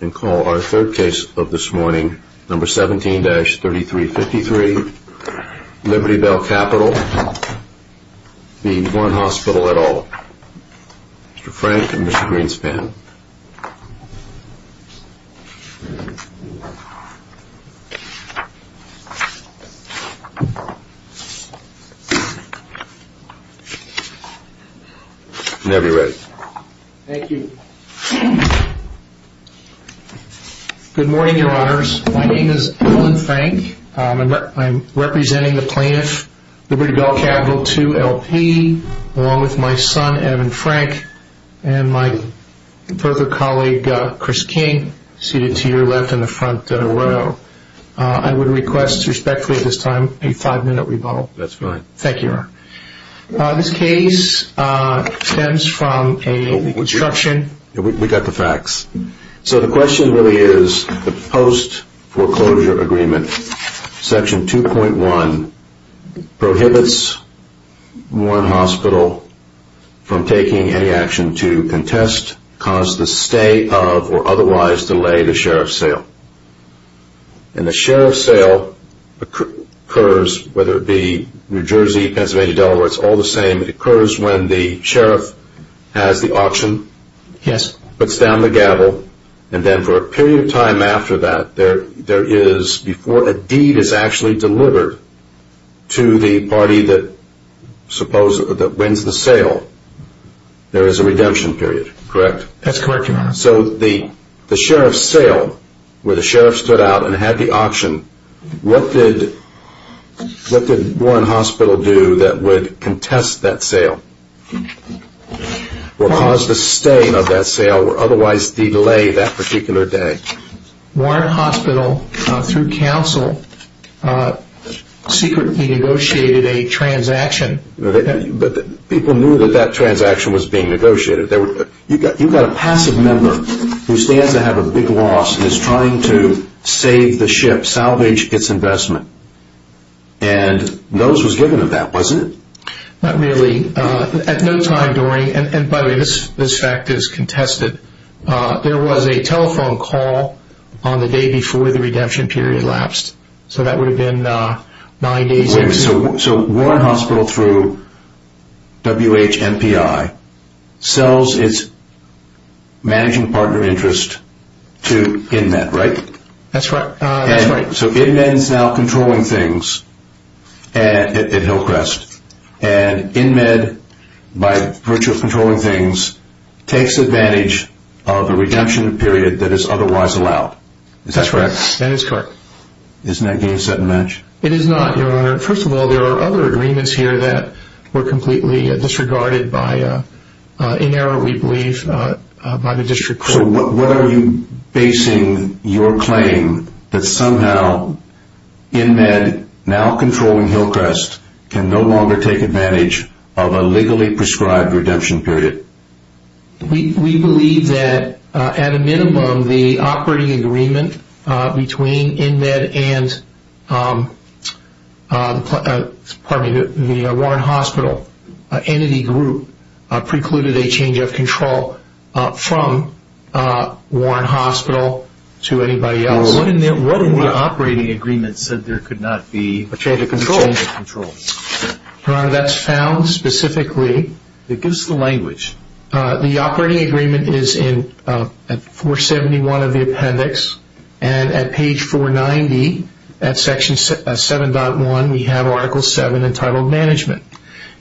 and call our third case of this morning number 17-3353 Liberty Bell Capital being Warren Hospital at all. Mr. Frank and Mr. Greenspan Good morning, your honors. My name is Alan Frank. I'm representing the plaintiff, Liberty Bell Capital. I would like to request a five-minute rebuttal. This case stems from the post foreclosure agreement. Section 2.1 prohibits Warren Hospital from taking any action to contest, cause the stay of, or otherwise delay the sheriff's sale. And the sheriff's sale occurs, whether it be New Jersey, Pennsylvania, Delaware, it's all the same. It occurs when the sheriff has the auction, puts down the gavel, and then for a period of time after that, there is, before a deed is actually delivered to the party that wins the sale, there is a redemption period, correct? That's correct, your honor. So the sheriff's sale, where the sheriff stood out and had the auction, what did Warren Hospital do that would contest that sale, or cause the stay of that sale, or otherwise delay that particular day? Warren Hospital, through counsel, secretly negotiated a transaction. But people knew that that transaction was being negotiated. You've got a passive member who stands to have a big loss and is trying to save the ship, salvage its investment. And notice was given of that, wasn't it? Not really. At no time during, and by the way, this fact is contested, there was a telephone call on the day before the redemption period elapsed. So that would have been nine days later. So Warren Hospital, through WHMPI, sells its managing partner interest to InMed, right? That's right. So InMed is now controlling things at Hillcrest. And InMed, by virtue of controlling things, takes advantage of a redemption period that is otherwise allowed. Is that correct? Yes, that is correct. Isn't that game set and match? It is not, your honor. First of all, there are other agreements here that were completely disregarded by, in error we believe, by the district court. So what are you basing your claim that somehow InMed, now controlling Hillcrest, can no longer take advantage of a legally prescribed redemption period? We believe that, at a minimum, the operating agreement between InMed and the Warren Hospital entity group precluded a change of control from Warren Hospital to anybody else. What in the operating agreement said there could not be a change of control? Your honor, that's found specifically. Give us the language. The operating agreement is in 471 of the appendix. And at page 490, at section 7.1, we have article 7 entitled Management.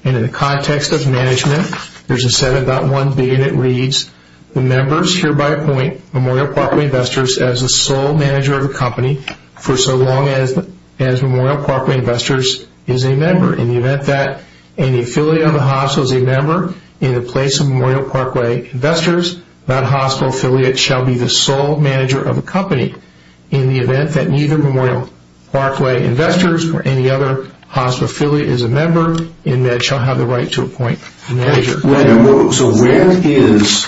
And in the context of management, there's a 7.1b and it reads, The members hereby appoint Memorial Parkway Investors as the sole manager of the company for so long as Memorial Parkway Investors is a member. In the event that any affiliate of the hospital is a member in the place of Memorial Parkway Investors, that hospital affiliate shall be the sole manager of the company. In the event that neither Memorial Parkway Investors or any other hospital affiliate is a member, InMed shall have the right to appoint a manager. So where is,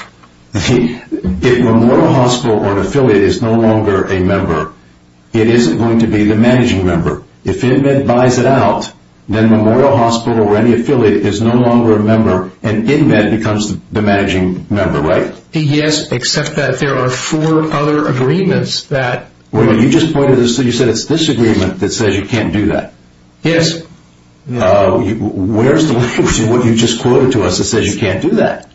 if Memorial Hospital or an affiliate is no longer a member, it isn't going to be the managing member. If InMed buys it out, then Memorial Hospital or any affiliate is no longer a member and InMed becomes the managing member, right? Yes, except that there are four other agreements that... Wait a minute, you just pointed, you said it's this agreement that says you can't do that. Yes. Where's the language in what you just quoted to us that says you can't do that?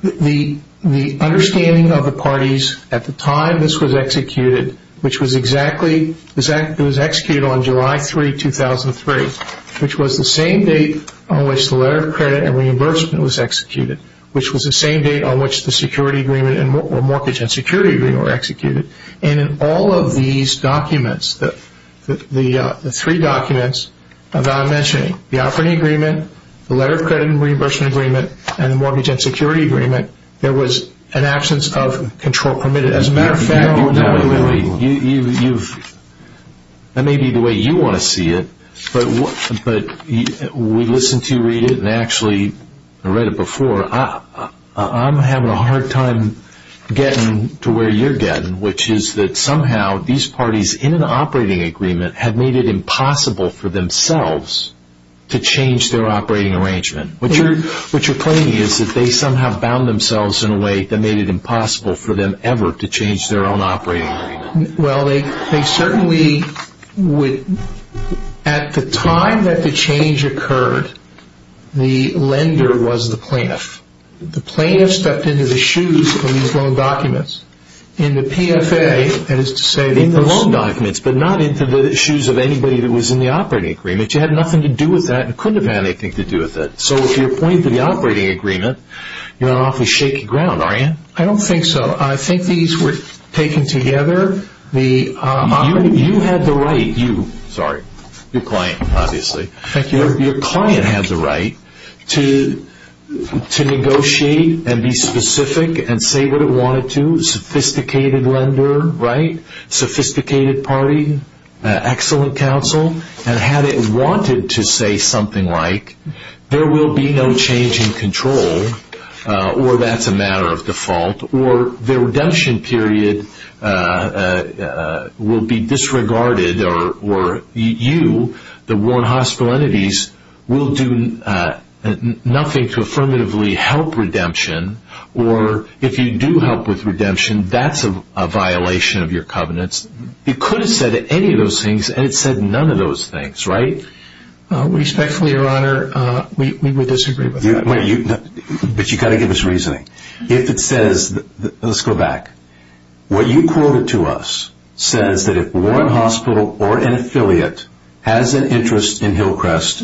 The understanding of the parties at the time this was executed, which was exactly, it was executed on July 3, 2003, which was the same date on which the letter of credit and reimbursement was executed, which was the same date on which the mortgage and security agreement were executed, and in all of these documents, the three documents that I'm mentioning, the operating agreement, the letter of credit and reimbursement agreement, and the mortgage and security agreement, there was an absence of control permitted. As a matter of fact, that may be the way you want to see it, but we listened to you read it and actually, I read it before, I'm having a hard time getting to where you're getting, which is that somehow these parties in an operating agreement have made it impossible for themselves to change their operating arrangement, which you're claiming is that they somehow bound themselves in a way that made it impossible for them ever to change their own operating agreement. Well, they certainly would, at the time that the change occurred, the lender was the plaintiff. The plaintiff stepped into the shoes of these loan documents. In the PFA, that is to say, In the loan documents, but not into the shoes of anybody that was in the operating agreement. You had nothing to do with that and couldn't have had anything to do with it. So if you're pointing to the operating agreement, you're on awfully shaky ground, are you? I don't think so. I think these were taken together. You had the right, you, sorry, your client, obviously. Thank you. Your client had the right to negotiate and be specific and say what it wanted to. Sophisticated lender, right? Sophisticated party? Excellent counsel? And had it wanted to say something like, there will be no change in control, or that's a matter of default, or their redemption period will be disregarded, or you, the Warren Hospital entities, will do nothing to affirmatively help redemption, or if you do help with redemption, that's a violation of your covenants. You could have said any of those things, and it said none of those things, right? Respectfully, Your Honor, we would disagree with that. But you've got to give us reasoning. If it says, let's go back, what you quoted to us says that if Warren Hospital or an affiliate has an interest in Hillcrest,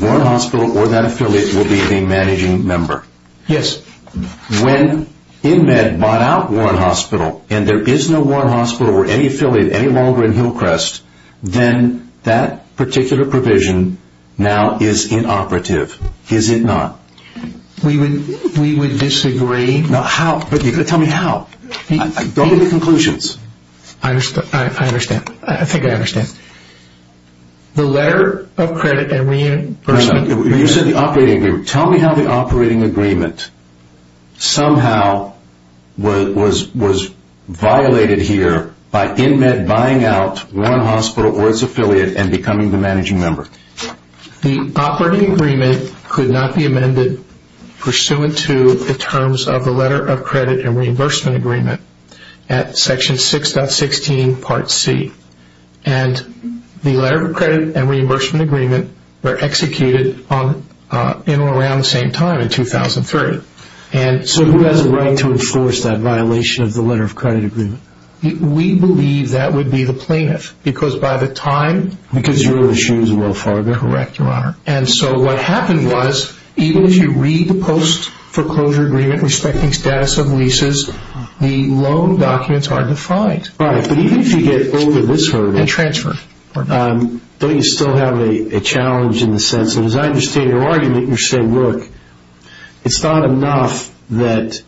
Warren Hospital or that affiliate will be the managing member. Yes. When InMed bought out Warren Hospital and there is no Warren Hospital or any affiliate any longer in Hillcrest, then that particular provision now is inoperative, is it not? We would disagree. How? Tell me how. Go to the conclusions. I think I understand. The letter of credit and reimbursement. You said the operating agreement. Tell me how the operating agreement somehow was violated here by InMed buying out Warren Hospital or its affiliate and becoming the managing member. The operating agreement could not be amended pursuant to the terms of the letter of credit and reimbursement agreement at section 6.16 part C. And the letter of credit and reimbursement agreement were executed in or around the same time in 2003. So who has a right to enforce that violation of the letter of credit agreement? We believe that would be the plaintiff because by the time... Because you're in the shoes of Will Fargo. Correct, Your Honor. And so what happened was even if you read the post foreclosure agreement respecting status of leases, the loan documents are defined. Right. But even if you get over this hurdle... And transfer. Don't you still have a challenge in the sense that as I understand your argument, you're saying, look, it's not enough that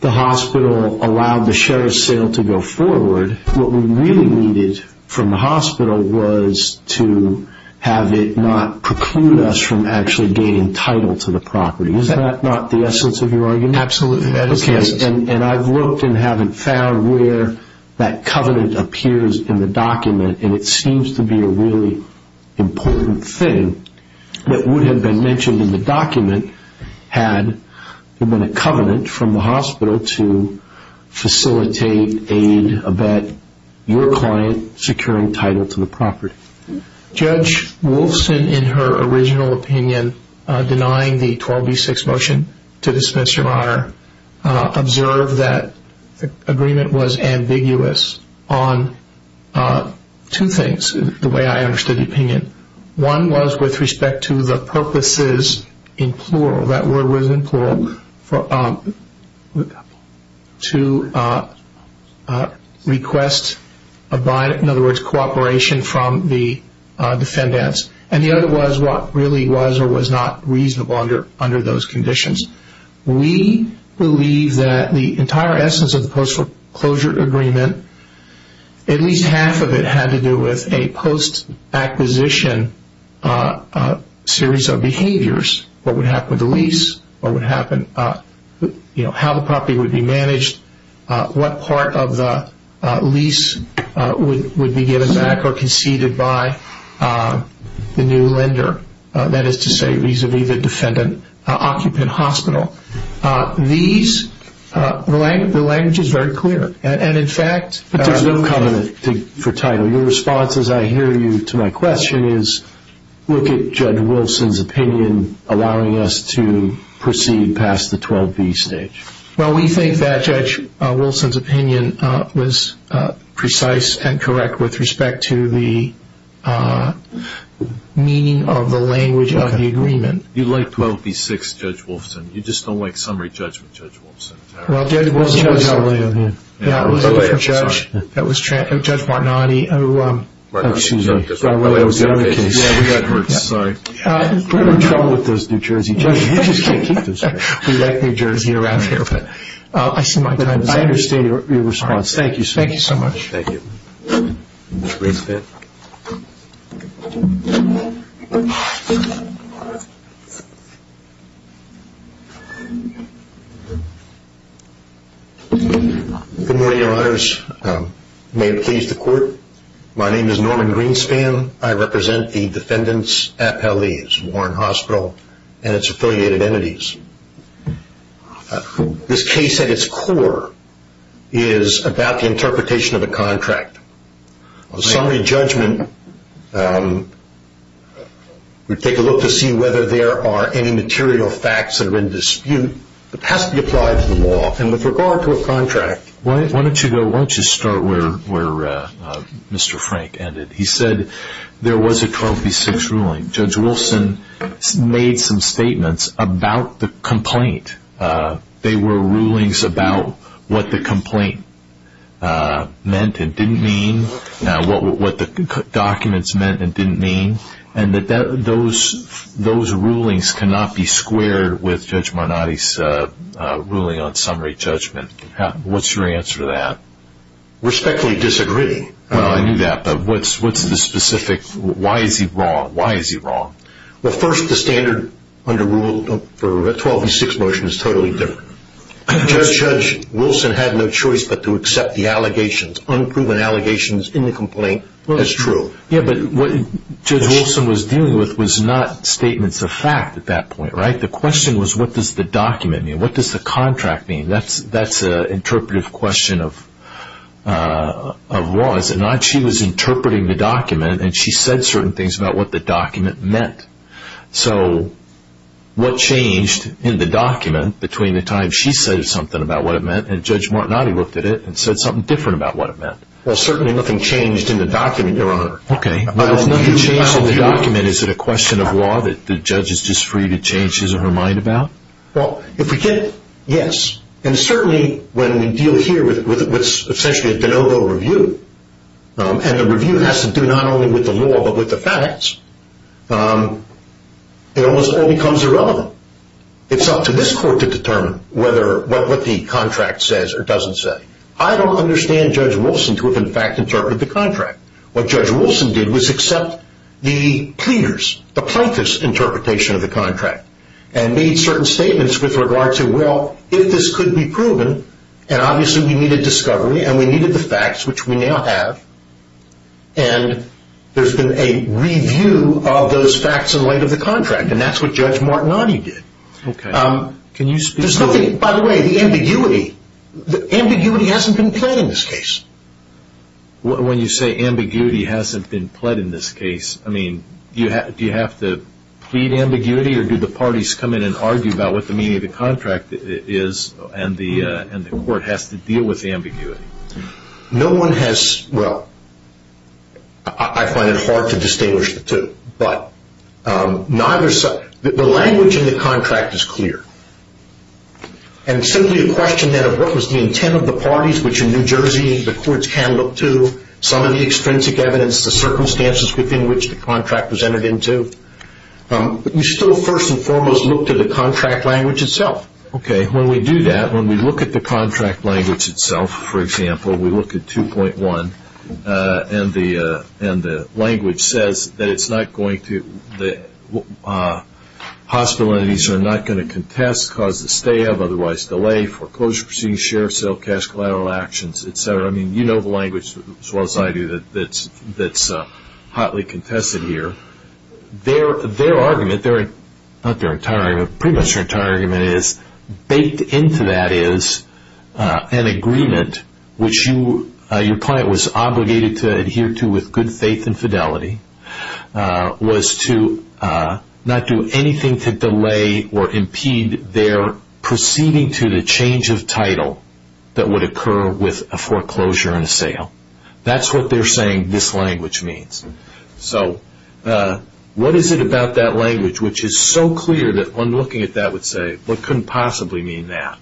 the hospital allowed the sheriff's sale to go forward. What we really needed from the hospital was to have it not preclude us from actually gaining title to the property. Is that not the essence of your argument? Absolutely. And I've looked and haven't found where that covenant appears in the document, and it seems to be a really important thing that would have been mentioned in the document had there been a covenant from the hospital to facilitate, aid, abet your client securing title to the property. Judge Wolfson, in her original opinion, denying the 12B6 motion to dismiss, Your Honor, observed that the agreement was ambiguous on two things, the way I understood the opinion. One was with respect to the purposes, in plural, that word was in plural, to request, in other words, cooperation from the defendants. And the other was what really was or was not reasonable under those conditions. We believe that the entire essence of the post-reclosure agreement, at least half of it had to do with a post-acquisition series of behaviors, what would happen with the lease, how the property would be managed, what part of the lease would be given back or conceded by the new lender, that is to say vis-à-vis the defendant occupant hospital. The language is very clear. But there's no covenant for title. Your response, as I hear you, to my question is, look at Judge Wolfson's opinion allowing us to proceed past the 12B stage. Well, we think that Judge Wolfson's opinion was precise and correct with respect to the meaning of the language of the agreement. You like 12B6, Judge Wolfson. You just don't like summary judgment, Judge Wolfson. Well, Judge Wolfson was LA on him. That was Judge Marnotti. Oh, excuse me. That was another case. We're in trouble with those New Jersey judges. We like New Jersey around here. But I see my time is up. I understand your response. Thank you so much. Thank you. Mr. Greenspan. Good morning, Your Honors. May it please the Court. My name is Norman Greenspan. I represent the defendants' FLEs, Warren Hospital, and its affiliated entities. This case at its core is about the interpretation of a contract. On summary judgment, we take a look to see whether there are any material facts that are in dispute. It has to be applied to the law. And with regard to a contract. Why don't you start where Mr. Frank ended. He said there was a 12B6 ruling. Judge Wolfson made some statements about the complaint. They were rulings about what the complaint meant and didn't mean. What the documents meant and didn't mean. And that those rulings cannot be squared with Judge Marnotti's ruling on summary judgment. What's your answer to that? Respectfully disagree. I knew that. What's the specific, why is he wrong? Why is he wrong? Well, first, the standard under rule for a 12B6 motion is totally different. Judge Wolfson had no choice but to accept the allegations, unproven allegations in the complaint as true. Yeah, but what Judge Wolfson was dealing with was not statements of fact at that point, right? The question was what does the document mean? What does the contract mean? That's an interpretive question of laws. Judge Wolfson was interpreting the document and she said certain things about what the document meant. So what changed in the document between the time she said something about what it meant and Judge Marnotti looked at it and said something different about what it meant? Well, certainly nothing changed in the document, Your Honor. Okay. If nothing changed in the document, is it a question of law that the judge is just free to change his or her mind about? Well, if we did, yes. And certainly when we deal here with essentially a de novo review and the review has to do not only with the law but with the facts, it almost all becomes irrelevant. It's up to this court to determine what the contract says or doesn't say. I don't understand Judge Wolfson to have in fact interpreted the contract. What Judge Wolfson did was accept the pleaders, the plaintiffs' interpretation of the contract and made certain statements with regard to, well, if this could be proven, and obviously we needed discovery and we needed the facts, which we now have, and there's been a review of those facts in light of the contract. And that's what Judge Marnotti did. Okay. Can you speak to that? There's nothing, by the way, the ambiguity. Ambiguity hasn't been pled in this case. When you say ambiguity hasn't been pled in this case, I mean, do you have to plead ambiguity or do the parties come in and argue about what the meaning of the contract is and the court has to deal with the ambiguity? No one has, well, I find it hard to distinguish the two. But the language in the contract is clear. And simply a question then of what was the intent of the parties, which in New Jersey the courts can look to, some of the extrinsic evidence, the circumstances within which the contract was entered into. But you still first and foremost look to the contract language itself. Okay. When we do that, when we look at the contract language itself, for example, we look at 2.1 and the language says that it's not going to, hospital entities are not going to contest, cause the stay of, otherwise delay, foreclosure proceedings, share of sale, cash collateral actions, et cetera. I mean, you know the language as well as I do that's hotly contested here. Their argument, not their entire argument, pretty much their entire argument is baked into that is an agreement, which your client was obligated to adhere to with good faith and fidelity, was to not do anything to delay or impede their proceeding to the change of title that would occur with a foreclosure and a sale. That's what they're saying this language means. So what is it about that language which is so clear that when looking at that would say, what could possibly mean that?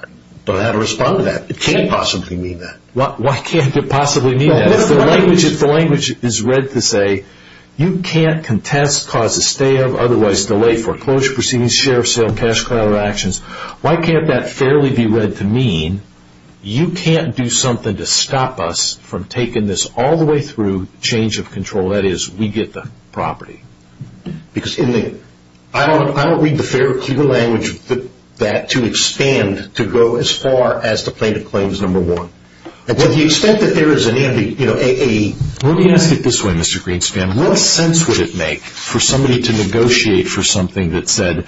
I don't know how to respond to that. It can't possibly mean that. Why can't it possibly mean that? If the language is read to say you can't contest, cause the stay of, otherwise delay, foreclosure proceedings, share of sale, cash collateral actions, why can't that fairly be read to mean you can't do something to stop us from taking this all the way through change of control. That is, we get the property. Because I don't read the fair, clear language that to expand, to go as far as the plaintiff claims number one. To the extent that there is an entity. Let me ask it this way, Mr. Greenspan. What sense would it make for somebody to negotiate for something that said,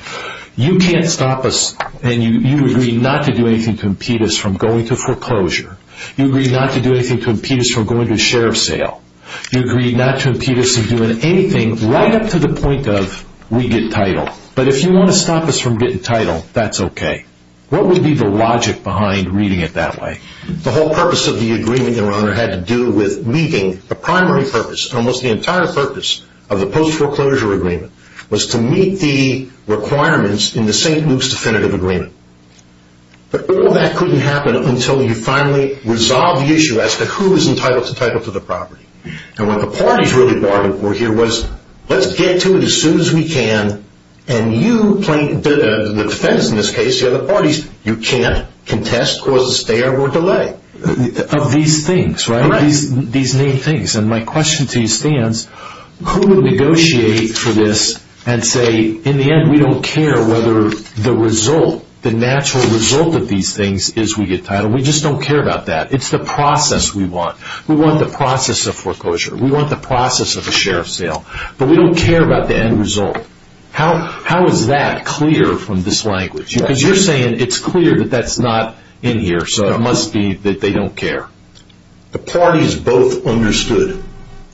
you can't stop us and you agree not to do anything to impede us from going to foreclosure. You agree not to do anything to impede us from going to share of sale. You agree not to impede us from doing anything right up to the point of we get title. But if you want to stop us from getting title, that's okay. What would be the logic behind reading it that way? The whole purpose of the agreement, Your Honor, had to do with meeting the primary purpose, almost the entire purpose of the post foreclosure agreement, was to meet the requirements in the St. Luke's Definitive Agreement. But all that couldn't happen until you finally resolve the issue as to who is entitled to title to the property. And what the parties really bargained for here was, let's get to it as soon as we can, and you, the defense in this case, the other parties, you can't contest, cause a stay or delay. Of these things, right? Right. These main things. And my question to you stands, who would negotiate for this and say, in the end we don't care whether the result, the natural result of these things is we get title. We just don't care about that. It's the process we want. We want the process of foreclosure. We want the process of a share of sale. But we don't care about the end result. How is that clear from this language? Because you're saying it's clear that that's not in here, so it must be that they don't care. The parties both understood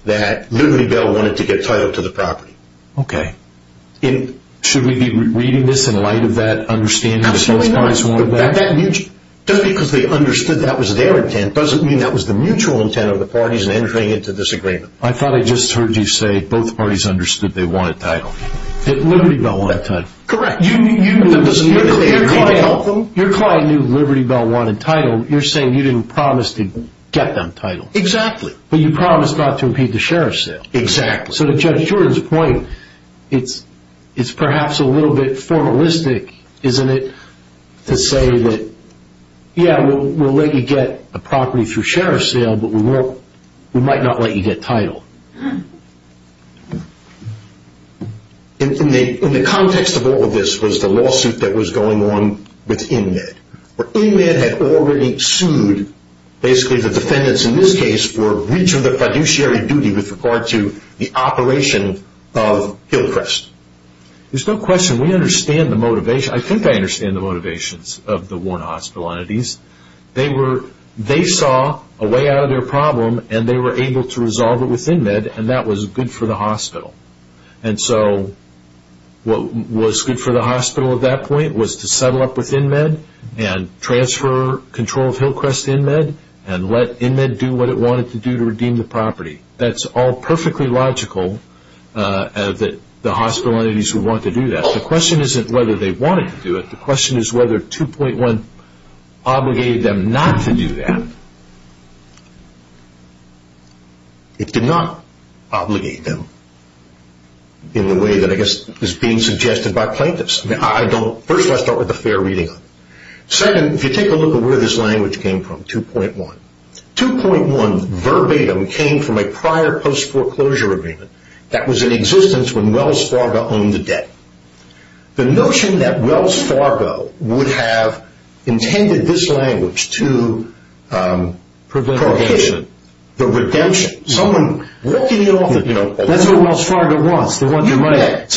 that Liberty Bell wanted to get title to the property. Okay. Should we be reading this in light of that understanding that both parties wanted that? Absolutely not. Just because they understood that was their intent doesn't mean that was the mutual intent of the parties in entering into this agreement. I thought I just heard you say both parties understood they wanted title. That Liberty Bell wanted title. Correct. Your client knew Liberty Bell wanted title. You're saying you didn't promise to get them title. Exactly. But you promised not to impede the share of sale. Exactly. So to Judge Jordan's point, it's perhaps a little bit formalistic, isn't it, to say that, yeah, we'll let you get a property through share of sale, but we might not let you get title. In the context of all of this was the lawsuit that was going on with InMed. InMed had already sued basically the defendants in this case for breach of the fiduciary duty with regard to the operation of Hillcrest. There's no question. We understand the motivation. I think I understand the motivations of the Warren Hospital entities. They saw a way out of their problem, and they were able to resolve it with InMed. And that was good for the hospital. And so what was good for the hospital at that point was to settle up with InMed and transfer control of Hillcrest to InMed and let InMed do what it wanted to do to redeem the property. That's all perfectly logical that the hospital entities would want to do that. The question isn't whether they wanted to do it. The question is whether 2.1 obligated them not to do that. It did not obligate them in the way that I guess is being suggested by plaintiffs. First of all, I start with a fair reading. Second, if you take a look at where this language came from, 2.1, 2.1 verbatim came from a prior post-foreclosure agreement that was in existence when Wells Fargo owned the debt. The notion that Wells Fargo would have intended this language to prevent the redemption. That's what Wells Fargo wants. So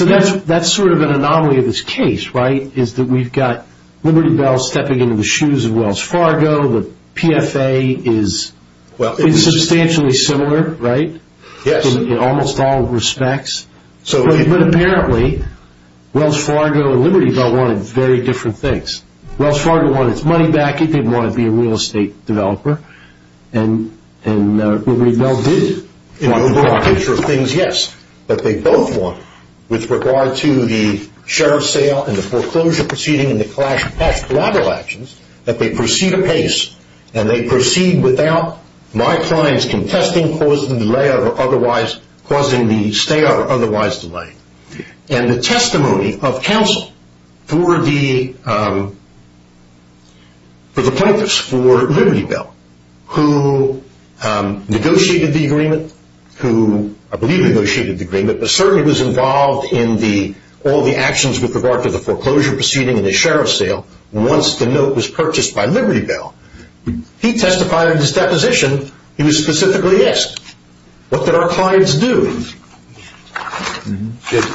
that's sort of an anomaly of this case, right, is that we've got Liberty Bell stepping into the shoes of Wells Fargo. The PFA is substantially similar, right, in almost all respects. But apparently, Wells Fargo and Liberty Bell wanted very different things. Wells Fargo wanted its money back. It didn't want to be a real estate developer. And Liberty Bell did want the property. In the broad picture of things, yes, but they both want, with regard to the share of sale and the foreclosure proceeding and the collateral actions, that they proceed apace and they proceed without my clients contesting, causing the stay or otherwise delay. And the testimony of counsel for the plaintiffs, for Liberty Bell, who negotiated the agreement, who I believe negotiated the agreement, but certainly was involved in all the actions with regard to the foreclosure proceeding and the share of sale, once the note was purchased by Liberty Bell, he testified in his deposition, he was specifically asked, what did our clients do? Did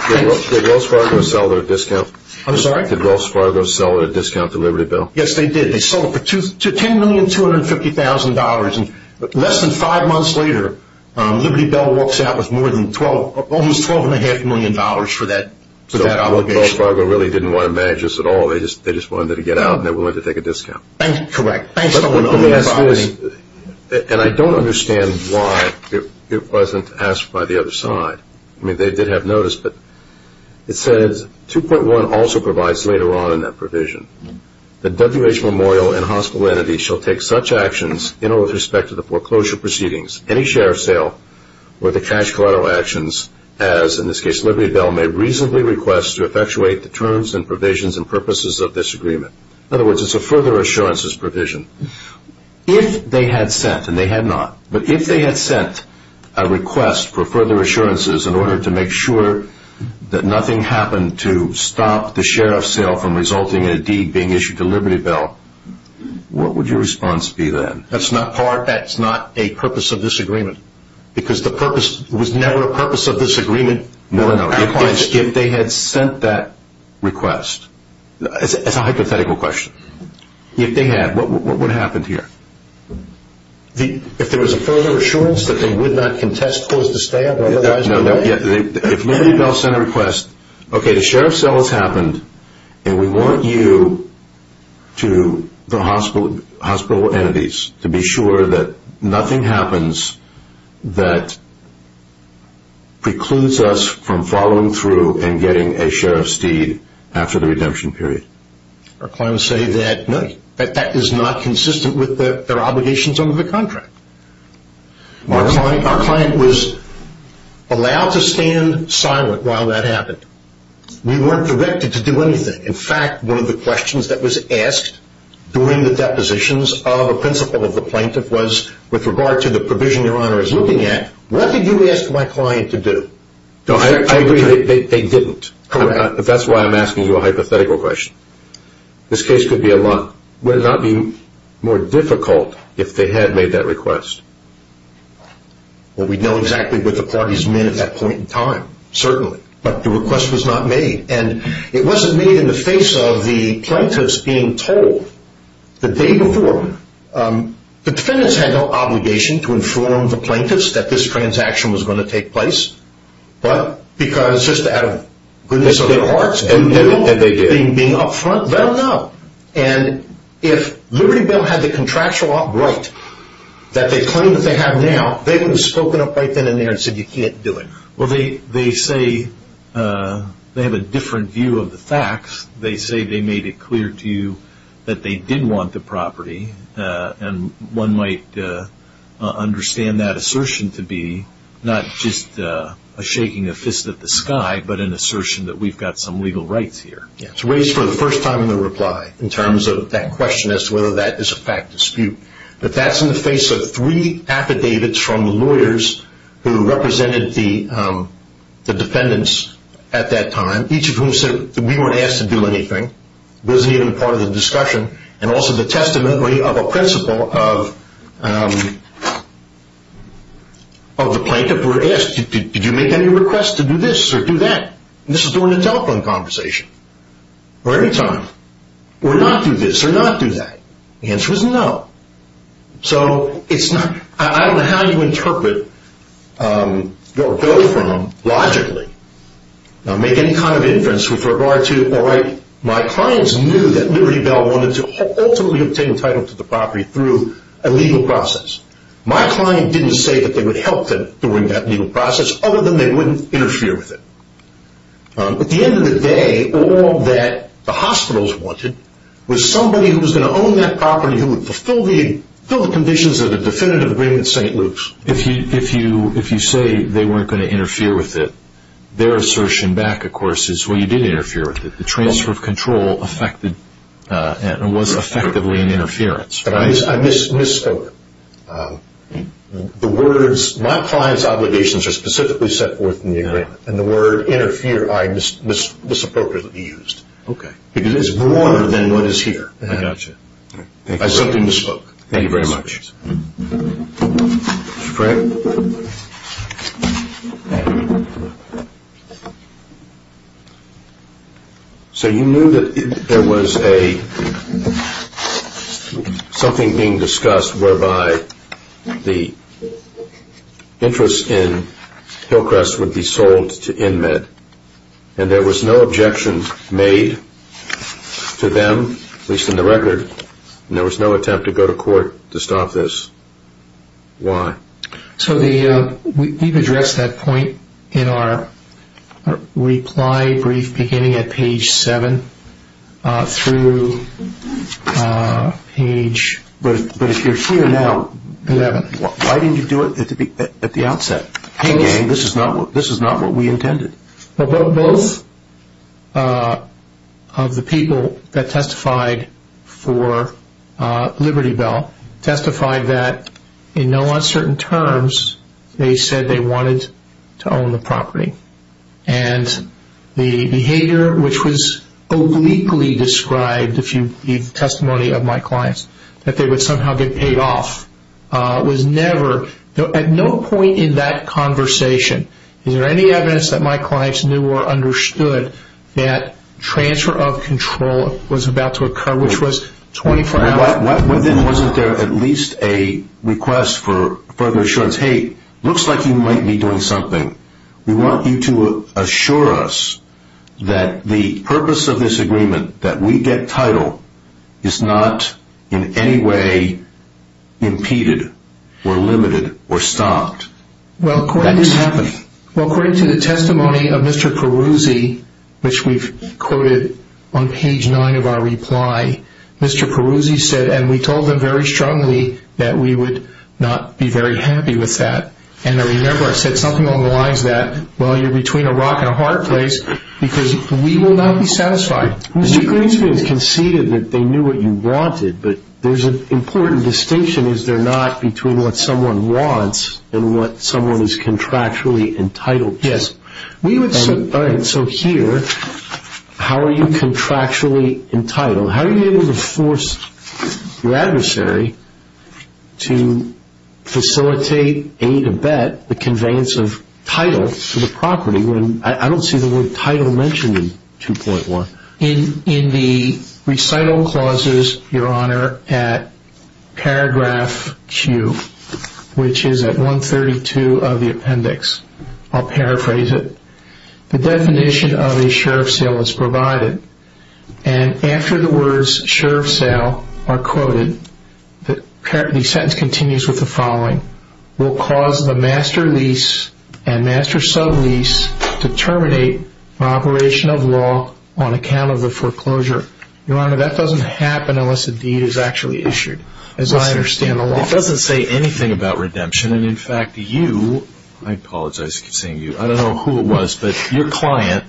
Wells Fargo sell their discount? I'm sorry? Did Wells Fargo sell their discount to Liberty Bell? Yes, they did. They sold it for $10,250,000. And less than five months later, Liberty Bell walks out with almost $12.5 million for that obligation. So Wells Fargo really didn't want to manage this at all. They just wanted it to get out and they were willing to take a discount. Correct. And I don't understand why it wasn't asked by the other side. I mean, they did have notice, but it says 2.1 also provides later on in that provision, that WH Memorial and hospital entities shall take such actions in or with respect to the foreclosure proceedings, any share of sale or the cash collateral actions as, in this case, Liberty Bell, may reasonably request to effectuate the terms and provisions and purposes of this agreement. In other words, it's a further assurances provision. If they had sent, and they had not, but if they had sent a request for further assurances in order to make sure that nothing happened to stop the share of sale from resulting in a deed being issued to Liberty Bell, what would your response be then? That's not a purpose of this agreement because the purpose was never a purpose of this agreement. If they had sent that request. It's a hypothetical question. If they had, what happened here? If there was a further assurance that they would not contest, close the stand? If Liberty Bell sent a request, okay, the share of sale has happened, and we want you to, the hospital entities, to be sure that nothing happens that precludes us from following through and getting a share of steed after the redemption period. Our clients say that that is not consistent with their obligations under the contract. Our client was allowed to stand silent while that happened. We weren't directed to do anything. In fact, one of the questions that was asked during the depositions of a principal of the plaintiff was, with regard to the provision your Honor is looking at, what did you ask my client to do? I agree that they didn't. Correct. That's why I'm asking you a hypothetical question. This case could be a lot. Would it not be more difficult if they had made that request? Well, we'd know exactly what the parties meant at that point in time, certainly, but the request was not made. And it wasn't made in the face of the plaintiffs being told the day before. The defendants had no obligation to inform the plaintiffs that this transaction was going to take place, but because, just out of goodness of their hearts, being up front, they'll know. And if Liberty Bell had the contractual right that they claim that they have now, they would have spoken up right then and there and said you can't do it. Well, they say they have a different view of the facts. They say they made it clear to you that they did want the property, and one might understand that assertion to be not just a shaking of fists at the sky, but an assertion that we've got some legal rights here. It's raised for the first time in the reply in terms of that question as to whether that is a fact dispute. But that's in the face of three affidavits from the lawyers who represented the defendants at that time, each of whom said that we weren't asked to do anything. It wasn't even part of the discussion. And also the testimony of a principal of the plaintiff were asked, did you make any requests to do this or do that? And this was during a telephone conversation. Or any time. Or not do this or not do that. The answer was no. So it's not, I don't know how you interpret or go from logically, make any kind of inference with regard to all right, my clients knew that Liberty Bell wanted to ultimately obtain a title to the property through a legal process. My client didn't say that they would help them during that legal process, other than they wouldn't interfere with it. At the end of the day, all that the hospitals wanted was somebody who was going to own that property, who would fulfill the conditions of the definitive agreement at St. Luke's. If you say they weren't going to interfere with it, their assertion back, of course, is, well, you did interfere with it. The transfer of control affected and was effectively an interference. I misspoke. The words, my client's obligations are specifically set forth in the agreement, and the word interfere I misappropriately used. Okay. Because it's more than what is here. I got you. I simply misspoke. Thank you very much. Mr. Frank. So you knew that there was something being discussed whereby the interest in Hillcrest would be sold to InMed, and there was no objection made to them, at least in the record, and there was no attempt to go to court to stop this. Why? So we've addressed that point in our reply brief beginning at page 7 through page 11. But if you're here now, why didn't you do it at the outset? Hey, gang, this is not what we intended. Both of the people that testified for Liberty Bell testified that, in no uncertain terms, they said they wanted to own the property. And the behavior, which was obliquely described, if you read the testimony of my clients, that they would somehow get paid off was never, at no point in that conversation, is there any evidence that my clients knew or understood that transfer of control was about to occur, which was 24 hours before. Then wasn't there at least a request for further assurance? Hey, looks like you might be doing something. We want you to assure us that the purpose of this agreement, that we get title, is not in any way impeded or limited or stopped. That is happening. Well, according to the testimony of Mr. Peruzzi, which we've quoted on page 9 of our reply, Mr. Peruzzi said, and we told him very strongly, that we would not be very happy with that. And I remember I said something along the lines that, well, you're between a rock and a hard place, because we will not be satisfied. Mr. Greenspan has conceded that they knew what you wanted, but there's an important distinction, is there not, between what someone wants and what someone is contractually entitled to. Yes. All right. So here, how are you contractually entitled? How are you able to force your adversary to facilitate, A, to bet, the conveyance of title to the property, when I don't see the word title mentioned in 2.1. In the recital clauses, Your Honor, at paragraph Q, which is at 132 of the appendix, I'll paraphrase it, the definition of a sheriff's sale is provided. And after the words sheriff's sale are quoted, the sentence continues with the following, will cause the master lease and master sublease to terminate operation of law on account of the foreclosure. Your Honor, that doesn't happen unless a deed is actually issued, as I understand the law. It doesn't say anything about redemption. And, in fact, you, I apologize for saying you, I don't know who it was, but your client,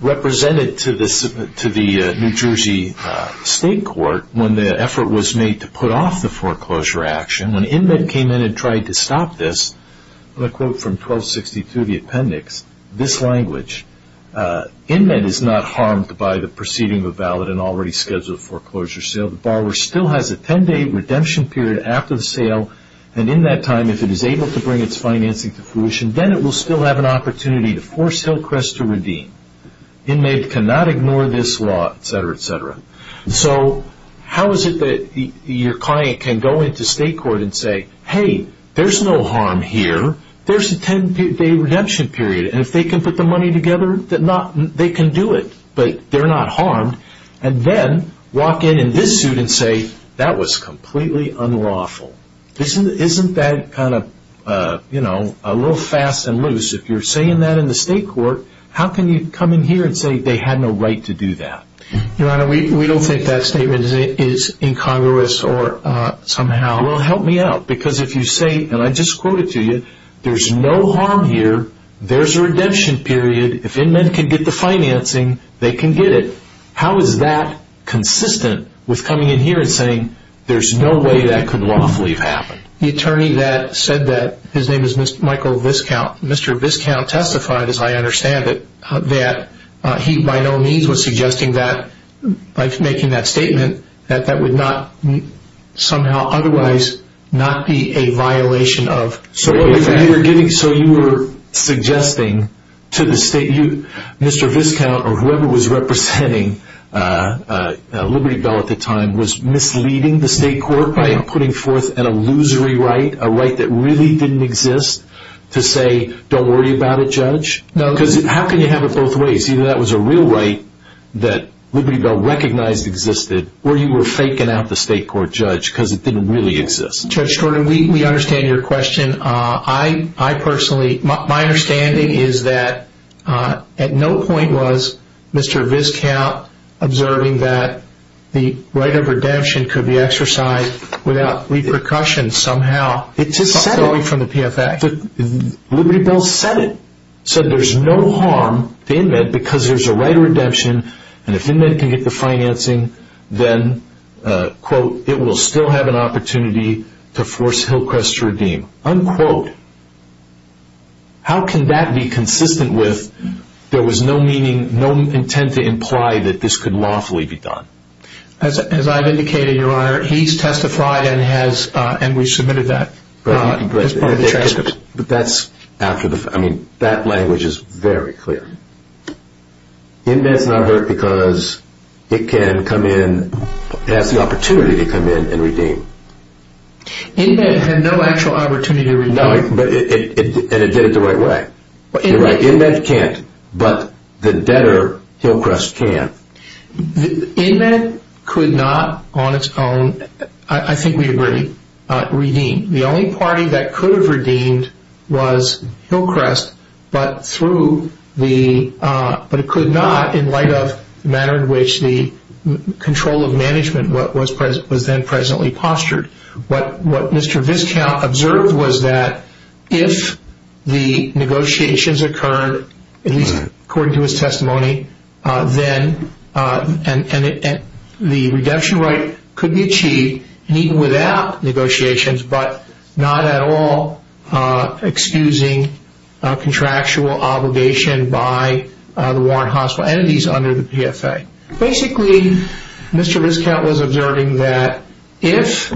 represented to the New Jersey State Court when the effort was made to put off the foreclosure action. When InMED came in and tried to stop this, the quote from 1262 of the appendix, this language, InMED is not harmed by the proceeding of a valid and already scheduled foreclosure sale. The borrower still has a 10-day redemption period after the sale, and in that time, if it is able to bring its financing to fruition, then it will still have an opportunity to force Hillcrest to redeem. InMED cannot ignore this law, et cetera, et cetera. So how is it that your client can go into state court and say, hey, there's no harm here, there's a 10-day redemption period, and if they can put the money together, they can do it, but they're not harmed, and then walk in in this suit and say, that was completely unlawful. Isn't that kind of a little fast and loose? If you're saying that in the state court, how can you come in here and say they had no right to do that? Your Honor, we don't think that statement is incongruous or somehow. Well, help me out, because if you say, and I just quote it to you, there's no harm here, there's a redemption period, if InMED can get the financing, they can get it. How is that consistent with coming in here and saying, there's no way that could lawfully have happened? The attorney that said that, his name is Michael Viscount, Mr. Viscount testified, as I understand it, that he by no means was suggesting that, by making that statement, that that would not somehow otherwise not be a violation of state law. So you were suggesting to the state, Mr. Viscount, or whoever was representing Liberty Bell at the time, was misleading the state court by putting forth an illusory right, a right that really didn't exist, to say, don't worry about it, Judge? Because how can you have it both ways? Either that was a real right that Liberty Bell recognized existed, or you were faking out the state court, Judge, because it didn't really exist. Judge Jordan, we understand your question. My understanding is that at no point was Mr. Viscount observing that the right of redemption could be exercised without repercussions somehow going from the PFAC. Liberty Bell said it. He said there's no harm to InMED because there's a right of redemption, and if InMED can get the financing, then, quote, it will still have an opportunity to force Hillcrest to redeem, unquote. How can that be consistent with there was no meaning, no intent to imply that this could lawfully be done? As I've indicated, Your Honor, he's testified and has, and we've submitted that as part of the transcript. But that's after the, I mean, that language is very clear. InMED's not hurt because it can come in, it has the opportunity to come in and redeem. InMED had no actual opportunity to redeem. And it did it the right way. You're right, InMED can't, but the debtor, Hillcrest, can. InMED could not on its own, I think we agree, redeem. The only party that could have redeemed was Hillcrest, but through the, but it could not in light of the manner in which the control of management was then presently postured. What Mr. Viscount observed was that if the negotiations occurred, at least according to his testimony, then the redemption right could be achieved, even without negotiations, but not at all excusing contractual obligation by the warrant hospital entities under the PFA. Basically, Mr. Viscount was observing that if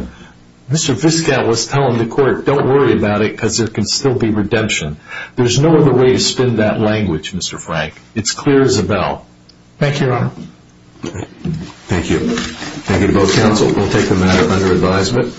Mr. Viscount was telling the court, don't worry about it because there can still be redemption. There's no other way to spin that language, Mr. Frank. It's clear as a bell. Thank you, Your Honor. Thank you. Thank you to both counsel. We'll take the matter under advisement.